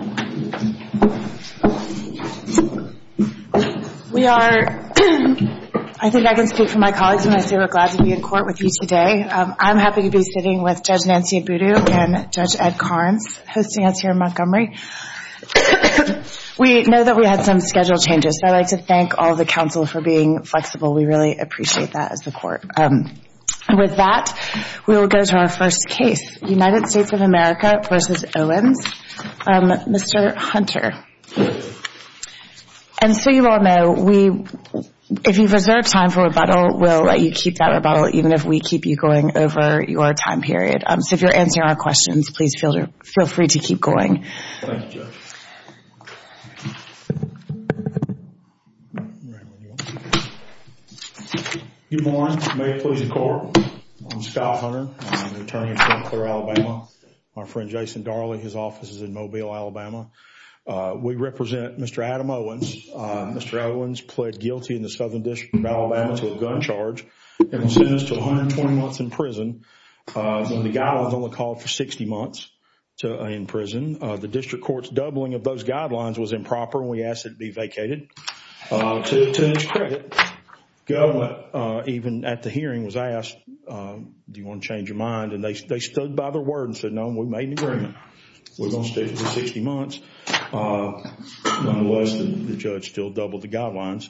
We are, I think I can speak for my colleagues when I say we're glad to be in court with you today. I'm happy to be sitting with Judge Nancy Abudu and Judge Ed Karnes, hosting us here in Montgomery. We know that we had some schedule changes, so I'd like to thank all of the counsel for being flexible. We really appreciate that as the court. With that, we will go to our first case, United States of America v. Owens. Mr. Hunter, and so you all know, we, if you've reserved time for rebuttal, we'll let you keep that rebuttal, even if we keep you going over your time period. So if you're answering our questions, please feel free to keep going. Thank you, Judge. Good morning. May it please the Court. I'm Scott Hunter. I'm an attorney in St. Clair, Alabama. My friend Jason Darley, his office is in Mobile, Alabama. We represent Mr. Adam Owens. Mr. Owens pled guilty in the Southern District of Alabama to a gun charge and was sentenced to 120 months in prison. The guidelines only called for 60 months in prison. The district court's doubling of those guidelines was improper, and we asked it be vacated. To his credit, government, even at the hearing, was asked, do you want to change your mind? And they stood by their word and said, no, we made an agreement. We're going to stay for 60 months. Nonetheless, the judge still doubled the guidelines.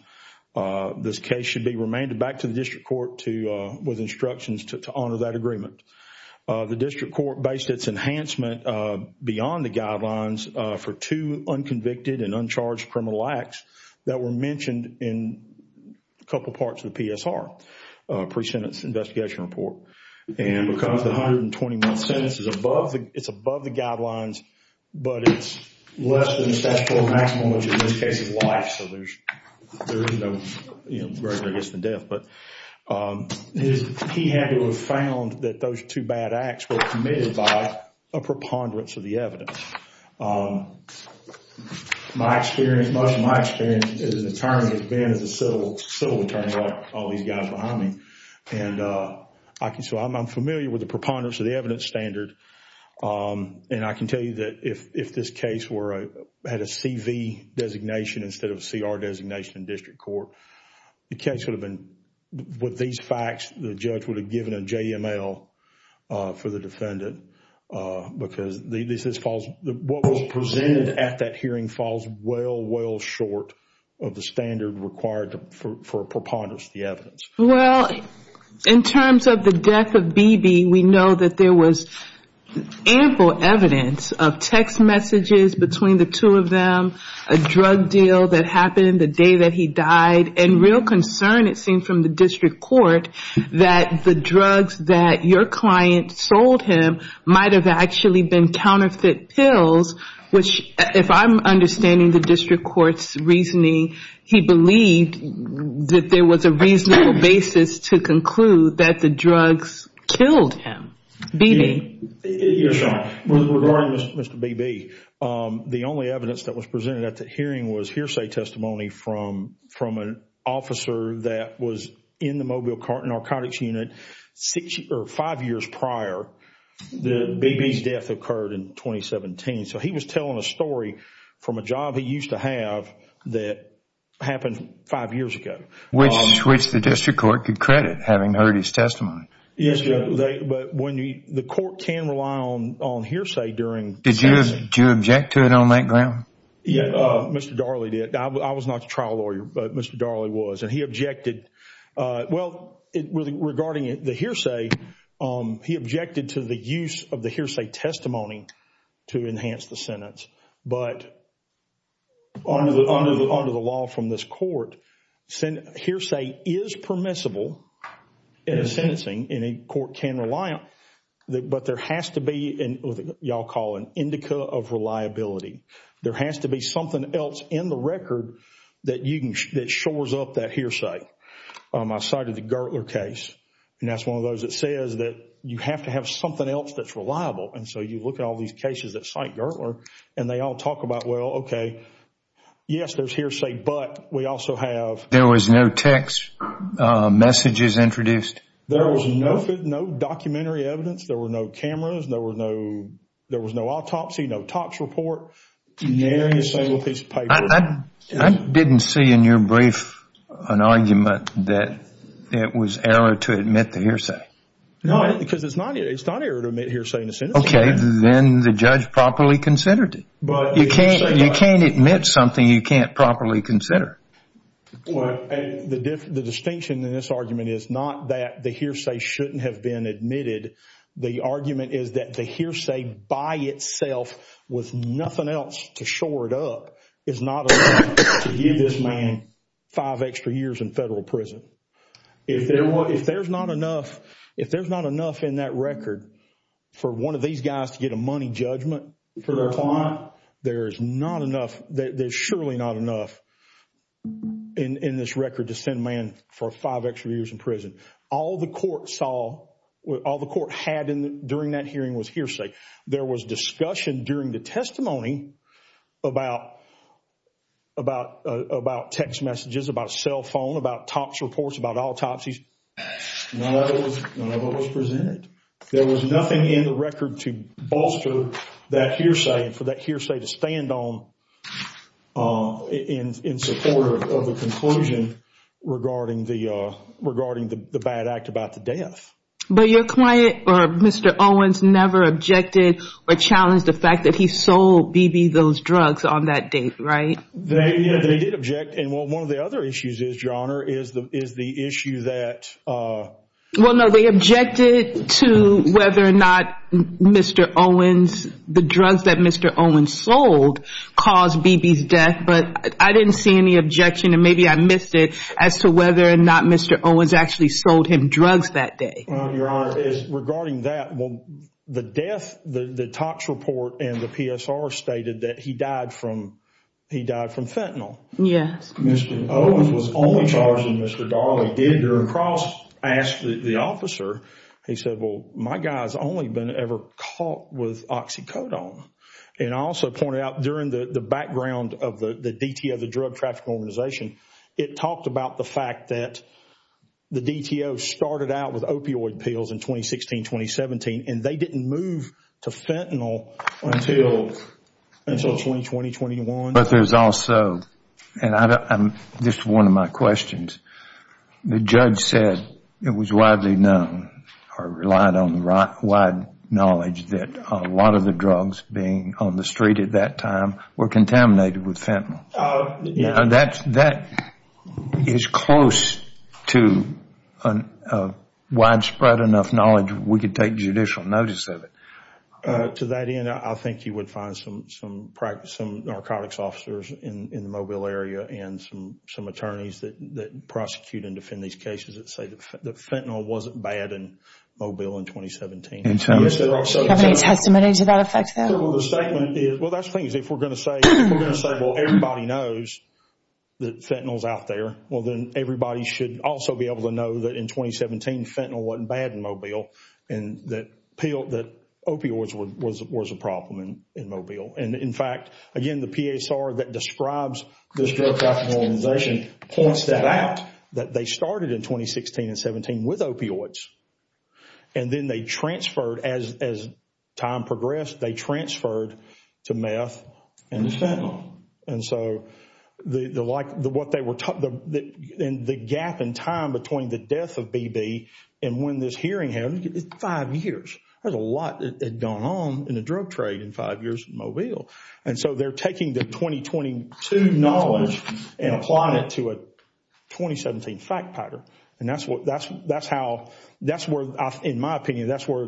This case should be remanded back to the district court with instructions to honor that agreement. The district court based its enhancement beyond the guidelines for two unconvicted and uncharged criminal acts that were mentioned in a couple parts of the PSR, pre-sentence investigation report. And because the 120-month sentence is above the guidelines, but it's less than the statutory maximum, which in this case is life, so there's no greater risk than death. But he had to have found that those two bad acts were committed by a preponderance of the evidence. My experience, much of my experience as an attorney has been as a civil attorney like all these guys behind me. And so I'm familiar with the preponderance of the evidence standard. And I can tell you that if this case had a CV designation instead of a CR designation in district court, the case would have been, with these facts, the judge would have given a JML for the defendant. Because what was presented at that hearing falls well, well short of the standard required for preponderance of the evidence. Well, in terms of the death of B.B., we know that there was ample evidence of text messages between the two of them, a drug deal that happened the day that he died. And real concern it seemed from the district court that the drugs that your client sold him might have actually been counterfeit pills, which if I'm understanding the district court's he believed that there was a reasonable basis to conclude that the drugs killed him. B.B. You're right. Regarding Mr. B.B., the only evidence that was presented at that hearing was hearsay testimony from an officer that was in the mobile narcotics unit five years prior that B.B.'s death occurred in 2017. So he was telling a story from a job he used to have that happened five years ago. Which the district court could credit having heard his testimony. Yes, but the court can rely on hearsay during... Did you object to it on that ground? Yeah, Mr. Darley did. I was not the trial lawyer, but Mr. Darley was. And he objected, well, regarding the hearsay, he objected to the use of the hearsay testimony to enhance the sentence. But under the law from this court, hearsay is permissible in a sentencing, and a court can rely on it. But there has to be what you all call an indica of reliability. There has to be something else in the record that shores up that hearsay. I cited the Gertler case, and that's one of those that says that you have to have something else that's reliable. And so you look at all these cases that cite Gertler, and they all talk about, well, okay, yes, there's hearsay, but we also have... There was no text messages introduced? There was no documentary evidence. There were no cameras. There was no autopsy, no TOPS report. Nearly the same piece of paper. I didn't see in your brief an argument that it was error to admit the hearsay. No, because it's not error to admit hearsay in a sentencing. Okay, then the judge properly considered it. You can't admit something you can't properly consider. The distinction in this argument is not that the hearsay shouldn't have been admitted. The argument is that the hearsay by itself with nothing else to shore it up is not enough to give this man five extra years in federal prison. If there's not enough in that record for one of these guys to get a money judgment for their client, there's surely not enough in this record to send a man for five extra years in prison. All the court had during that hearing was hearsay. There was discussion during the testimony about text messages, about cell phone, about TOPS reports, about autopsies. None of it was presented. There was nothing in the record to bolster that hearsay and for that hearsay to stand on in support of the conclusion regarding the bad act about the death. But your client, or Mr. Owens, never objected or challenged the fact that he sold B.B. those drugs on that date, right? They did object. One of the other issues is, Your Honor, is the issue that... Well, no. They objected to whether or not Mr. Owens, the drugs that Mr. Owens sold caused B.B.'s death, but I didn't see any objection and maybe I missed it as to whether or not Mr. Owens sold drugs that day. Well, Your Honor, regarding that, well, the death, the TOPS report and the PSR stated that he died from fentanyl. Yes. Mr. Owens was only charged and Mr. Darley did cross-ask the officer. He said, well, my guy's only been ever caught with oxycodone. And I also pointed out during the background of the DTO, the Drug Traffic Organization, it talked about the fact that the DTO started out with opioid pills in 2016-2017 and they didn't move to fentanyl until 2020-21. But there's also, and this is one of my questions, the judge said it was widely known or relied on wide knowledge that a lot of the drugs being on the street at that time were contaminated with fentanyl. Yes. Now, that is close to widespread enough knowledge we could take judicial notice of it. To that end, I think you would find some narcotics officers in the Mobile area and some attorneys that prosecute and defend these cases that say that fentanyl wasn't bad in Mobile in 2017. Do you have any testimony to that effect, though? Well, that's the thing. If we're going to say, well, everybody knows that fentanyl is out there, well, then everybody should also be able to know that in 2017, fentanyl wasn't bad in Mobile and that opioids was a problem in Mobile. And in fact, again, the PSR that describes this Drug Traffic Organization points that out, that they started in 2016-2017 with opioids. And then they transferred as time progressed, they transferred to meth and fentanyl. And so, the gap in time between the death of B.B. and when this hearing happened is five years. There's a lot that had gone on in the drug trade in five years in Mobile. And so, they're taking the 2022 knowledge and applying it to a 2017 fact pattern. And that's where, in my opinion, that's where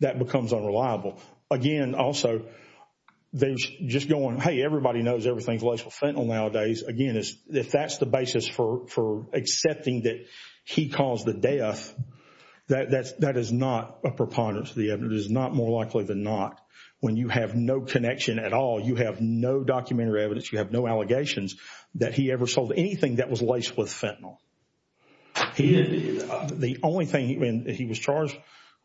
that becomes unreliable. Again, also, they're just going, hey, everybody knows everything's laced with fentanyl nowadays. Again, if that's the basis for accepting that he caused the death, that is not a preponderance. It is not more likely than not. When you have no connection at all, you have no documentary evidence, you have no allegations that he ever sold anything that was laced with fentanyl. The only thing, he was charged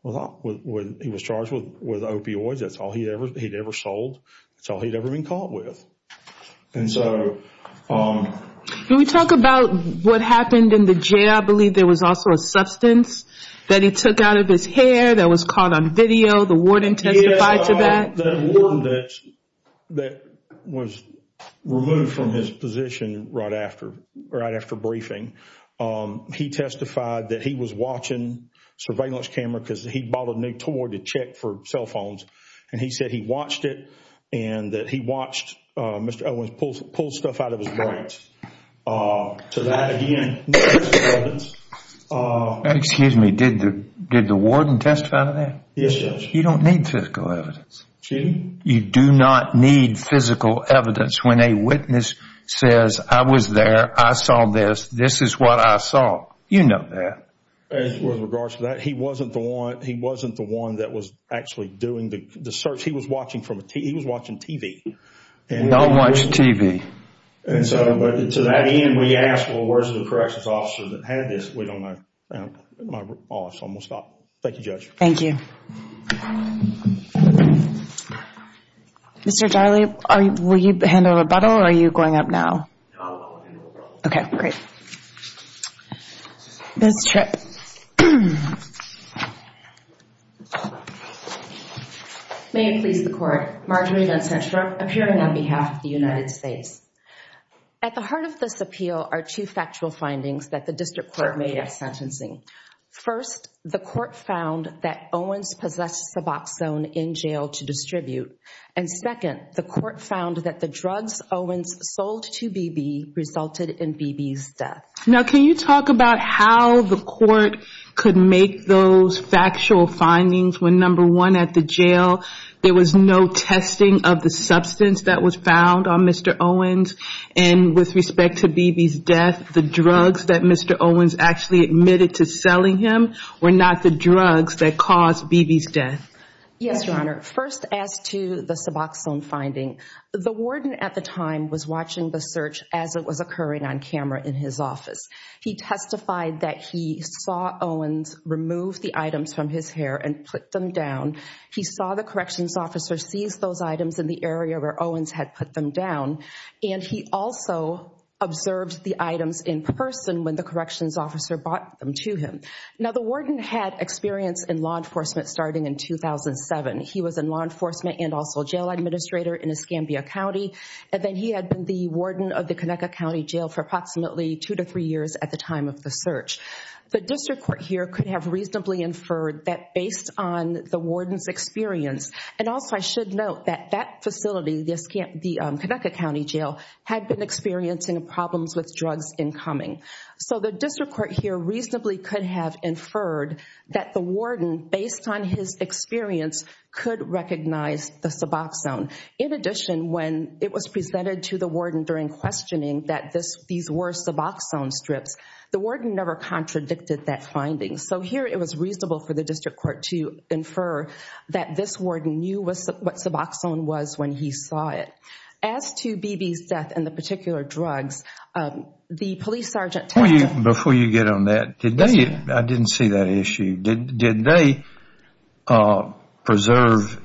with opioids. That's all he'd ever sold. That's all he'd ever been caught with. Can we talk about what happened in the jail? I believe there was also a substance that he took out of his hair that was caught on video. The warden testified to that. The warden that was removed from his position right after briefing, he testified that he was watching surveillance camera because he bought a new toy to check for cell phones. And he said he watched it and that he watched Mr. Owens pull stuff out of his branch. To that, again, no physical evidence. Excuse me, did the warden testify to that? Yes, Judge. You don't need physical evidence. Excuse me? You do not need physical evidence when a witness says, I was there, I saw this, this is what I saw. You know that. With regards to that, he wasn't the one that was actually doing the search. He was watching TV. Don't watch TV. To that end, we asked, well, where's the corrections officer that had this? We don't know. I'm going to stop. Thank you, Judge. Thank you. Mr. Darley, will you hand over the bottle or are you going up now? No, I'll hand over the bottle. Okay, great. Ms. Tripp. May it please the Court, Marjorie Lundstrom, appearing on behalf of the United States. At the heart of this appeal are two factual findings that the district court made at sentencing. First, the court found that Owens possessed Suboxone in jail to distribute. And second, the court found that the drugs Owens sold to Beebe resulted in Beebe's death. Now, can you talk about how the court could make those factual findings when, number one, at the jail, there was no testing of the substance that was found on Mr. Owens? And with respect to Beebe's death, the drugs that Mr. Owens actually admitted to selling him were not the drugs that caused Beebe's death? Yes, Your Honor. First, as to the Suboxone finding, the warden at the time was watching the search as it was occurring on camera in his office. He testified that he saw Owens remove the items from his hair and put them down. He saw the corrections officer seize those items in the area where Owens had put them down. And he also observed the items in person when the corrections officer brought them to him. Now, the warden had experience in law enforcement starting in 2007. He was in law enforcement and also a jail administrator in Escambia County. And then he had been the warden of the Conecuh County Jail for approximately two to three years at the time of the search. The district court here could have reasonably inferred that based on the warden's experience, And also I should note that that facility, the Conecuh County Jail, had been experiencing problems with drugs incoming. So the district court here reasonably could have inferred that the warden, based on his experience, could recognize the Suboxone. In addition, when it was presented to the warden during questioning that these were Suboxone strips, the warden never contradicted that finding. So here it was reasonable for the district court to infer that this warden knew what Suboxone was when he saw it. As to B.B.'s death and the particular drugs, the police sergeant... Before you get on that, I didn't see that issue. Did they preserve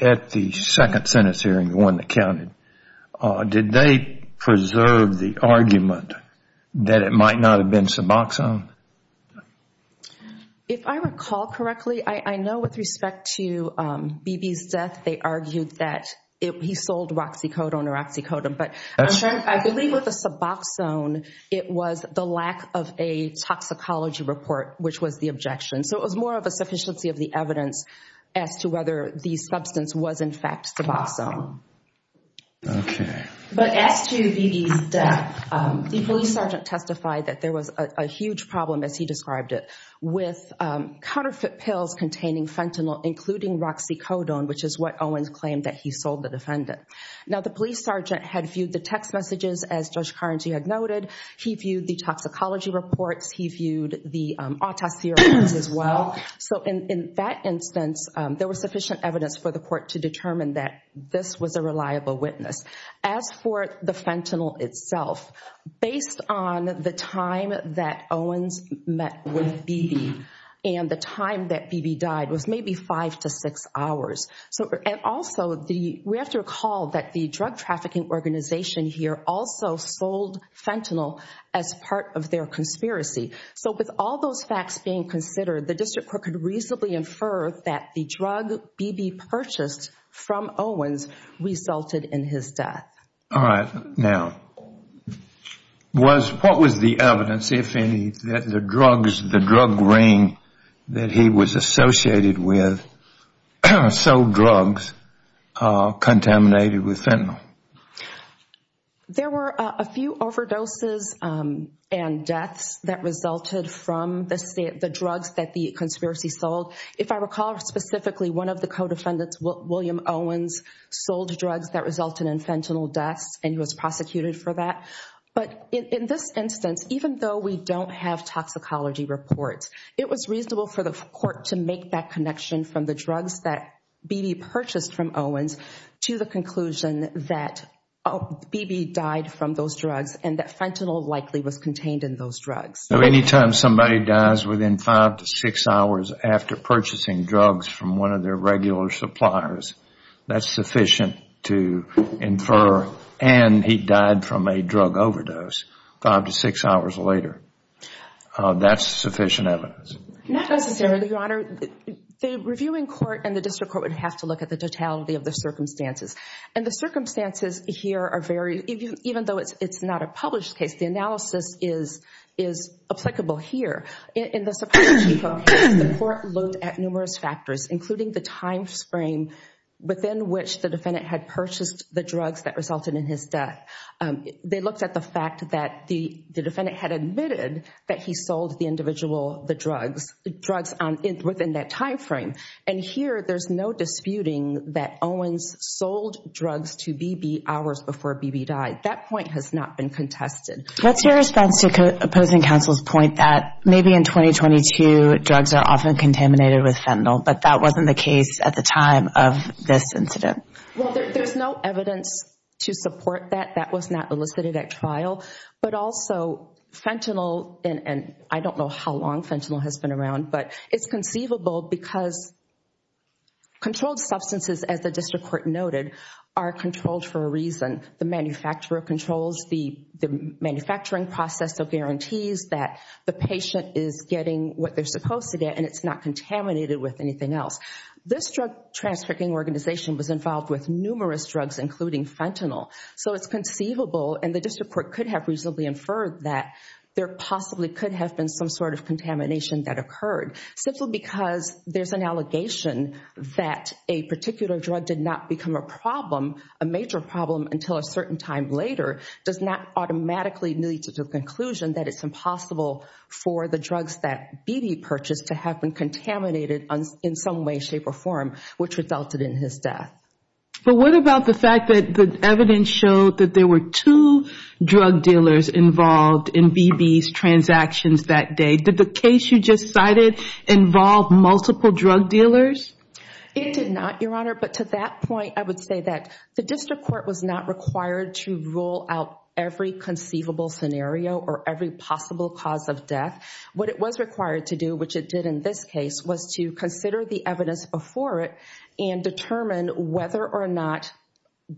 at the second sentence hearing, the one that counted, Did they preserve the argument that it might not have been Suboxone? If I recall correctly, I know with respect to B.B.'s death, they argued that he sold Roxycodone or Oxycodone. But I believe with the Suboxone, it was the lack of a toxicology report, which was the objection. So it was more of a sufficiency of the evidence as to whether the substance was in fact Suboxone. But as to B.B.'s death, the police sergeant testified that there was a huge problem, as he described it, with counterfeit pills containing fentanyl, including Roxycodone, which is what Owens claimed that he sold the defendant. Now, the police sergeant had viewed the text messages, as Judge Carnegie had noted. He viewed the toxicology reports. He viewed the autopsy reports as well. So in that instance, there was sufficient evidence for the court to determine that this was a reliable witness. As for the fentanyl itself, based on the time that Owens met with B.B. and the time that B.B. died was maybe five to six hours. And also, we have to recall that the drug trafficking organization here also sold fentanyl as part of their conspiracy. So with all those facts being considered, the district court could reasonably infer that the drug B.B. purchased from Owens resulted in his death. All right. Now, what was the evidence, if any, that the drug ring that he was associated with sold drugs contaminated with fentanyl? There were a few overdoses and deaths that resulted from the drugs that the conspiracy sold. If I recall specifically, one of the co-defendants, William Owens, sold drugs that resulted in fentanyl deaths and was prosecuted for that. But in this instance, even though we don't have toxicology reports, it was reasonable for the court to make that connection from the drugs that B.B. purchased from Owens to the conclusion that B.B. died from those drugs and that fentanyl likely was contained in those drugs. So anytime somebody dies within five to six hours after purchasing drugs from one of their regular suppliers, that's sufficient to infer, and he died from a drug overdose five to six hours later. That's sufficient evidence. Not necessarily, Your Honor. The reviewing court and the district court would have to look at the totality of the circumstances. And the circumstances here are very, even though it's not a published case, the analysis is applicable here. In the suppression case, the court looked at numerous factors, including the time frame within which the defendant had purchased the drugs that resulted in his death. They looked at the fact that the defendant had admitted that he sold the individual drugs within that time frame. And here, there's no disputing that Owens sold drugs to B.B. hours before B.B. died. That point has not been contested. What's your response to opposing counsel's point that maybe in 2022 drugs are often contaminated with fentanyl, but that wasn't the case at the time of this incident? Well, there's no evidence to support that. That was not elicited at trial. But also, fentanyl, and I don't know how long fentanyl has been around, but it's conceivable because controlled substances, as the district court noted, are controlled for a reason. The manufacturer controls the manufacturing process. They'll guarantee that the patient is getting what they're supposed to get, and it's not contaminated with anything else. This drug trafficking organization was involved with numerous drugs, including fentanyl. So it's conceivable, and the district court could have reasonably inferred that there possibly could have been some sort of contamination that occurred. Simply because there's an allegation that a particular drug did not become a problem, a major problem, until a certain time later does not automatically lead to the conclusion that it's impossible for the drugs that B.B. purchased to have been contaminated in some way, shape, or form, which resulted in his death. But what about the fact that the evidence showed that there were two drug dealers involved in B.B.'s transactions that day? Did the case you just cited involve multiple drug dealers? It did not, Your Honor. But to that point, I would say that the district court was not required to rule out every conceivable scenario or every possible cause of death. What it was required to do, which it did in this case, was to consider the evidence before it and determine whether or not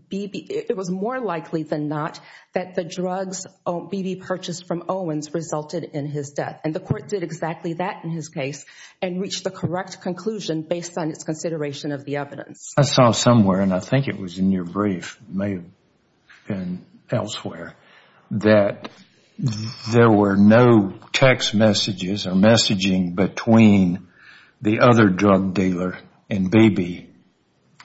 B.B. It was more likely than not that the drugs B.B. purchased from Owens resulted in his death. And the court did exactly that in his case and reached the correct conclusion based on its consideration of the evidence. I saw somewhere, and I think it was in your brief, it may have been elsewhere, that there were no text messages or messaging between the other drug dealer and B.B.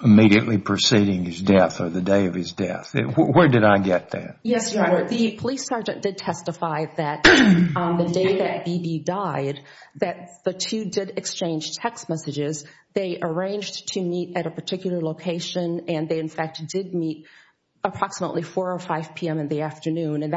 immediately preceding his death or the day of his death. Where did I get that? Yes, Your Honor. The police sergeant did testify that the day that B.B. died, that the two did exchange text messages. They arranged to meet at a particular location, and they, in fact, did meet approximately 4 or 5 p.m. in the afternoon, and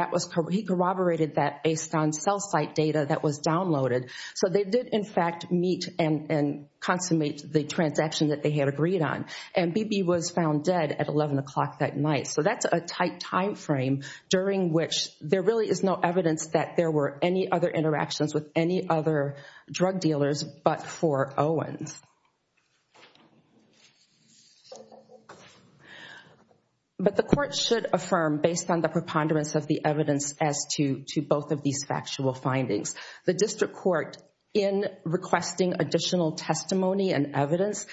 he corroborated that based on cell site data that was downloaded. So they did, in fact, meet and consummate the transaction that they had agreed on. And B.B. was found dead at 11 o'clock that night. So that's a tight time frame during which there really is no evidence that there were any other interactions with any other drug dealers but for Owens. But the court should affirm, based on the preponderance of the evidence as to both of these factual findings, the district court, in requesting additional testimony and evidence,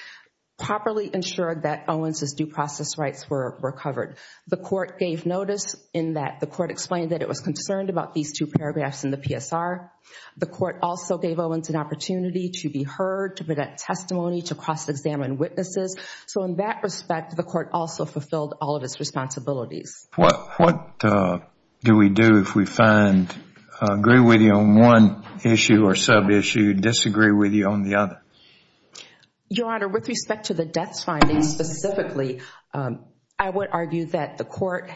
properly ensured that Owens' due process rights were recovered. The court gave notice in that the court explained that it was concerned about these two paragraphs in the PSR. The court also gave Owens an opportunity to be heard, to present testimony, to cross-examine witnesses. So in that respect, the court also fulfilled all of its responsibilities. What do we do if we find, agree with you on one issue or sub-issue, disagree with you on the other? Your Honor, with respect to the death findings specifically, I would argue that the court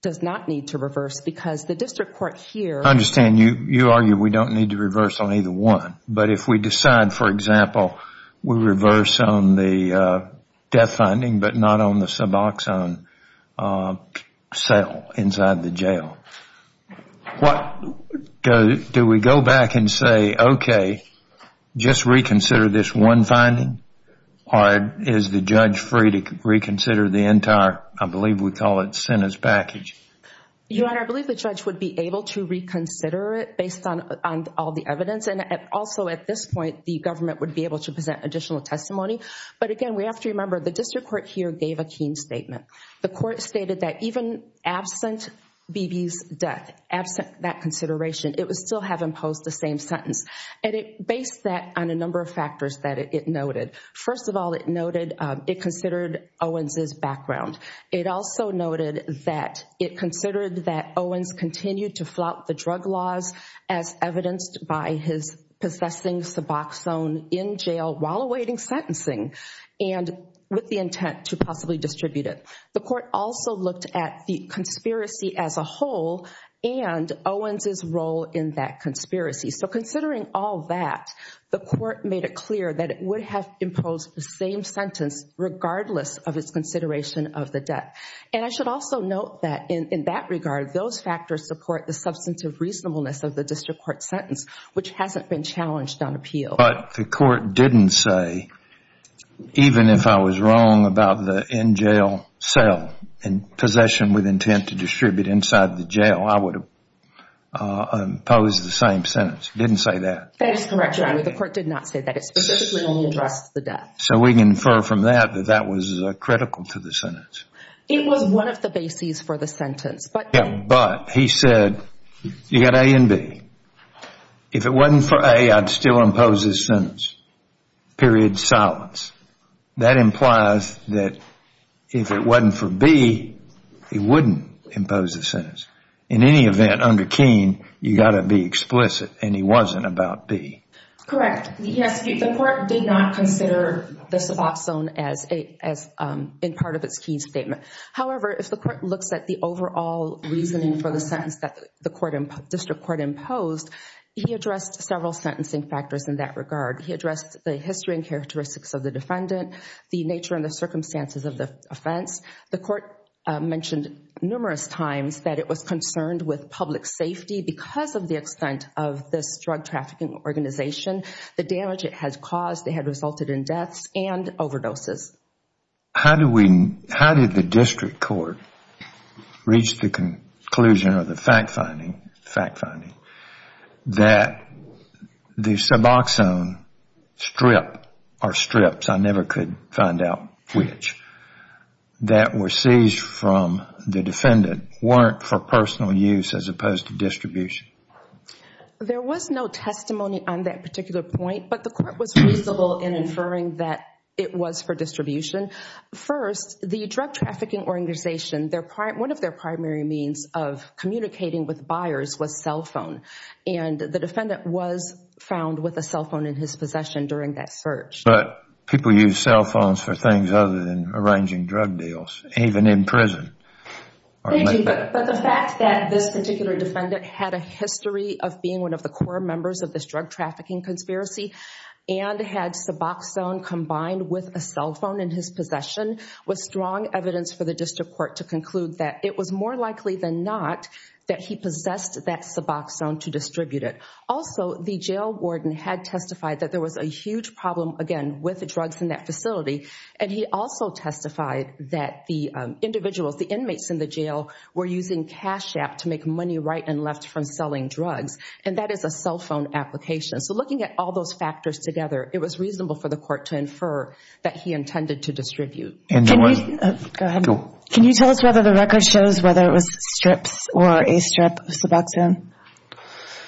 does not need to reverse because the district court here... I understand. You argue we don't need to reverse on either one. But if we decide, for example, we reverse on the death finding but not on the Suboxone cell inside the jail, what... do we go back and say, okay, just reconsider this one finding? Or is the judge free to reconsider the entire, I believe we call it, sentence package? Your Honor, I believe the judge would be able to reconsider it based on all the evidence. And also at this point, the government would be able to present additional testimony. But again, we have to remember the district court here gave a keen statement. The court stated that even absent Beebe's death, absent that consideration, it would still have imposed the same sentence. And it based that on a number of factors that it noted. First of all, it noted it considered Owens' background. It also noted that it considered that Owens continued to flout the drug laws as evidenced by his possessing Suboxone in jail while awaiting sentencing and with the intent to possibly distribute it. The court also looked at the conspiracy as a whole and Owens' role in that conspiracy. So considering all that, the court made it clear that it would have imposed the same sentence regardless of its consideration of the death. And I should also note that in that regard, those factors support the substantive reasonableness of the district court sentence, which hasn't been challenged on appeal. But the court didn't say, even if I was wrong about the in-jail cell and possession with intent to distribute inside the jail, I would impose the same sentence. It didn't say that. That is correct, Your Honor. The court did not say that. It specifically only addressed the death. So we can infer from that that that was critical to the sentence. It was one of the bases for the sentence. But he said, you've got A and B. If it wasn't for A, I'd still impose this sentence. Period. Silence. That implies that if it wasn't for B, he wouldn't impose the sentence. In any event, under Keene, you've got to be explicit, and he wasn't about B. Correct. Yes, the court did not consider the Suboxone as part of its Keene statement. However, if the court looks at the overall reasoning for the sentence that the district court imposed, he addressed several sentencing factors in that regard. He addressed the history and characteristics of the defendant, the nature and the circumstances of the offense. The court mentioned numerous times that it was concerned with public safety because of the extent of this drug trafficking organization, the damage it has caused. It had resulted in deaths and overdoses. How did the district court reach the conclusion or the fact finding that the Suboxone strip, or strips, I never could find out which, that were seized from the defendant weren't for personal use as opposed to distribution? There was no testimony on that particular point, but the court was reasonable in inferring that it was for distribution. First, the drug trafficking organization, one of their primary means of communicating with buyers was cell phone, and the defendant was found with a cell phone in his possession during that search. But people use cell phones for things other than arranging drug deals, even in prison. Thank you, but the fact that this particular defendant had a history of being one of the core members of this drug trafficking conspiracy and had Suboxone combined with a cell phone in his possession was strong evidence for the district court to conclude that it was more likely than not that he possessed that Suboxone to distribute it. Also, the jail warden had testified that there was a huge problem, again, with the drugs in that facility, and he also testified that the individuals, the inmates in the jail, were using Cash App to make money right and left from selling drugs, and that is a cell phone application. So looking at all those factors together, it was reasonable for the court to infer that he intended to distribute. Go ahead. Can you tell us whether the record shows whether it was strips or a strip of Suboxone?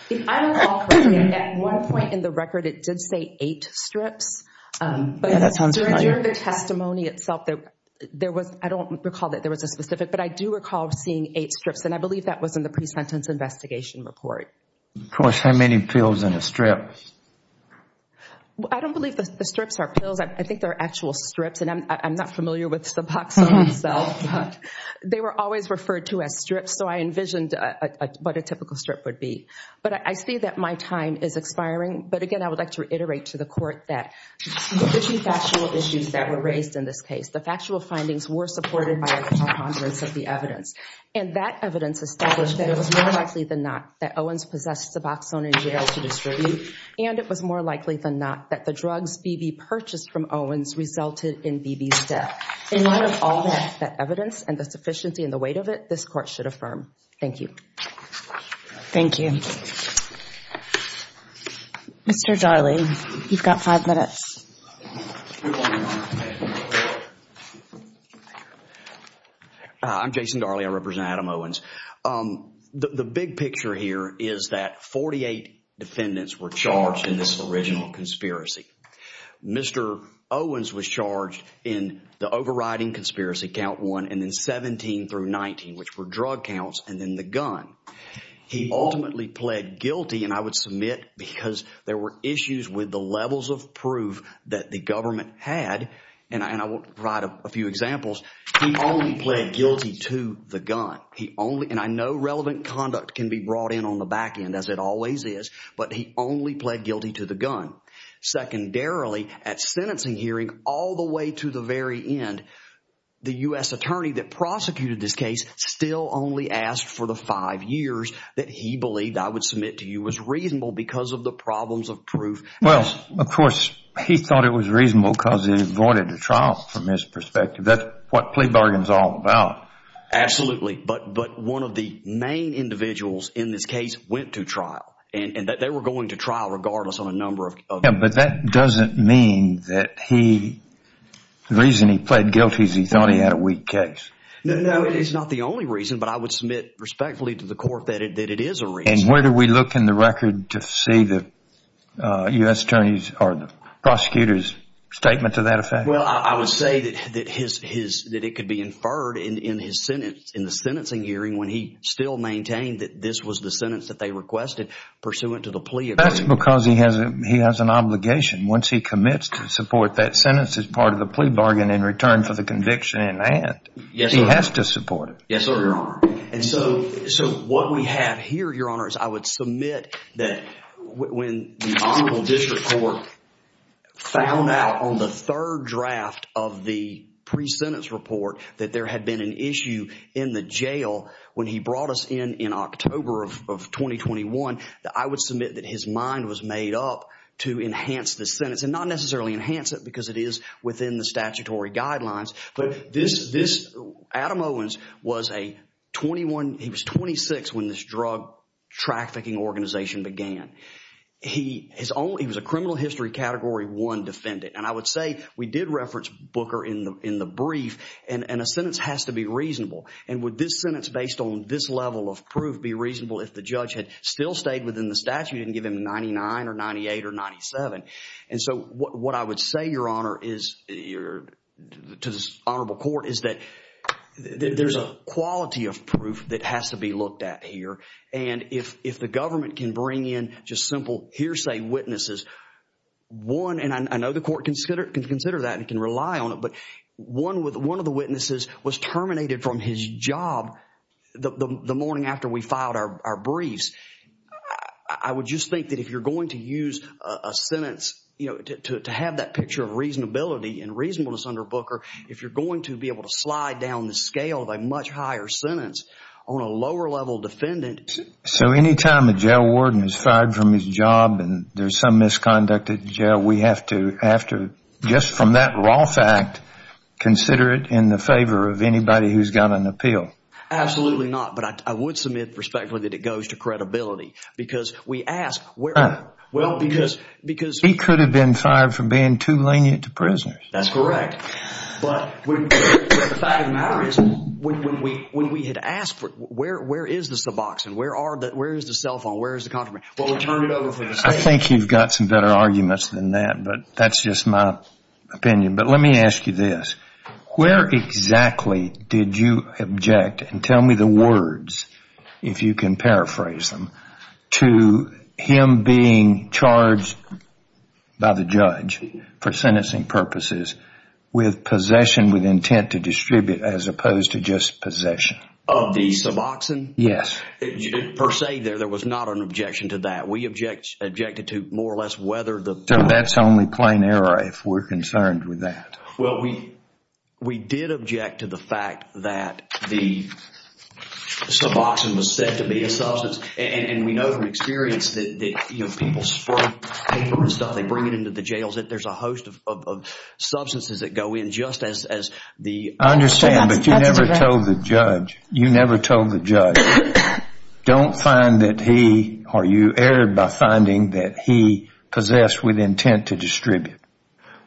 If I recall correctly, at one point in the record, it did say eight strips. Yeah, that sounds right. But during the testimony itself, there was, I don't recall that there was a specific, but I do recall seeing eight strips, and I believe that was in the pre-sentence investigation report. Of course, how many pills in a strip? I don't believe the strips are pills. I think they're actual strips, and I'm not familiar with Suboxone itself, but they were always referred to as strips, so I envisioned what a typical strip would be. But I see that my time is expiring, but again, I would like to reiterate to the court that the two factual issues that were raised in this case, the factual findings were supported by a conference of the evidence, and that evidence established that it was more likely than not that Owens possessed Suboxone in jail to distribute. And it was more likely than not that the drugs Beebe purchased from Owens resulted in Beebe's death. In light of all that evidence and the sufficiency and the weight of it, this court should affirm. Thank you. Thank you. Mr. Darley, you've got five minutes. I'm Jason Darley. I represent Adam Owens. The big picture here is that 48 defendants were charged in this original conspiracy. Mr. Owens was charged in the overriding conspiracy, count one, and then 17 through 19, which were drug counts, and then the gun. He ultimately pled guilty, and I would submit because there were issues with the levels of proof that the government had, and I will provide a few examples. He only pled guilty to the gun. He only, and I know relevant conduct can be brought in on the back end as it always is, but he only pled guilty to the gun. Secondarily, at sentencing hearing all the way to the very end, the U.S. attorney that prosecuted this case still only asked for the five years that he believed, I would submit to you, was reasonable because of the problems of proof. Well, of course, he thought it was reasonable because he avoided a trial from his perspective. That's what plea bargain is all about. Absolutely, but one of the main individuals in this case went to trial, and they were going to trial regardless on a number of- Yeah, but that doesn't mean that the reason he pled guilty is he thought he had a weak case. No, it is not the only reason, but I would submit respectfully to the court that it is a reason. Where do we look in the record to see the U.S. attorney's or the prosecutor's statement to that effect? Well, I would say that it could be inferred in the sentencing hearing when he still maintained that this was the sentence that they requested pursuant to the plea agreement. That's because he has an obligation. Once he commits to support that sentence as part of the plea bargain in return for the conviction in hand, he has to support it. Yes, sir, Your Honor. And so what we have here, Your Honor, is I would submit that when the Honorable District Court found out on the third draft of the pre-sentence report that there had been an issue in the jail when he brought us in in October of 2021, that I would submit that his mind was made up to enhance the sentence and not necessarily enhance it because it is within the statutory guidelines. But this, Adam Owens was a 21, he was 26 when this drug trafficking organization began. He was a criminal history category one defendant. And I would say we did reference Booker in the brief and a sentence has to be reasonable. And would this sentence based on this level of proof be reasonable if the judge had still stayed within the statute and give him 99 or 98 or 97? And so what I would say, Your Honor, to this honorable court is that there's a quality of proof that has to be looked at here. And if the government can bring in just simple hearsay witnesses, one, and I know the court can consider that and can rely on it, but one of the witnesses was terminated from his job the morning after we filed our briefs. I would just think that if you're going to use a sentence to have that picture of reasonability and reasonableness under Booker, if you're going to be able to slide down the scale of a much higher sentence on a lower level defendant. So anytime a jail warden is fired from his job and there's some misconduct at jail, we have to, just from that raw fact, consider it in the favor of anybody who's got an appeal? Absolutely not. But I would submit respectfully that it goes to credibility because we ask where, well, because. He could have been fired for being too lenient to prisoners. That's correct. But the fact of the matter is when we had asked, where is the suboxone? Where is the cell phone? Where is the contraband? Well, we turned it over for the state. I think you've got some better arguments than that, but that's just my opinion. But let me ask you this. Where exactly did you object, and tell me the words if you can paraphrase them, to him being charged by the judge for sentencing purposes with possession with intent to distribute as opposed to just possession? Of the suboxone? Yes. Per se there, there was not an objection to that. We objected to more or less whether the... Well, we did object to the fact that the suboxone was said to be a substance. And we know from experience that people spray paper and stuff. They bring it into the jails. There's a host of substances that go in just as the... I understand, but you never told the judge. You never told the judge. Don't find that he or you erred by finding that he possessed with intent to distribute.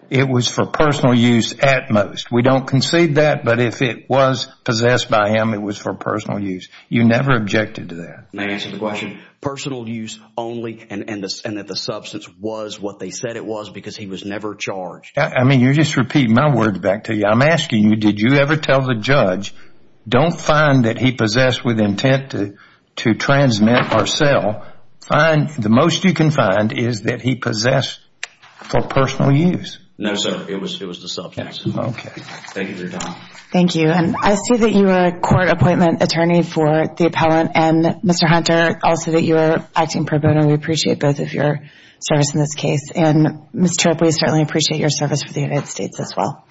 It was for personal use at most. We don't concede that, but if it was possessed by him, it was for personal use. You never objected to that. May I answer the question? Personal use only and that the substance was what they said it was because he was never charged. I mean, you're just repeating my words back to you. I'm asking you, did you ever tell the judge, don't find that he possessed with intent to transmit or sell. The most you can find is that he possessed for personal use. No, sir. It was the substance. Okay. Thank you, Your Honor. Thank you. And I see that you are a court appointment attorney for the appellant. And, Mr. Hunter, also that you are acting pro bono. We appreciate both of your service in this case. And, Mr. Tripp, we certainly appreciate your service for the United States as well. Thank you.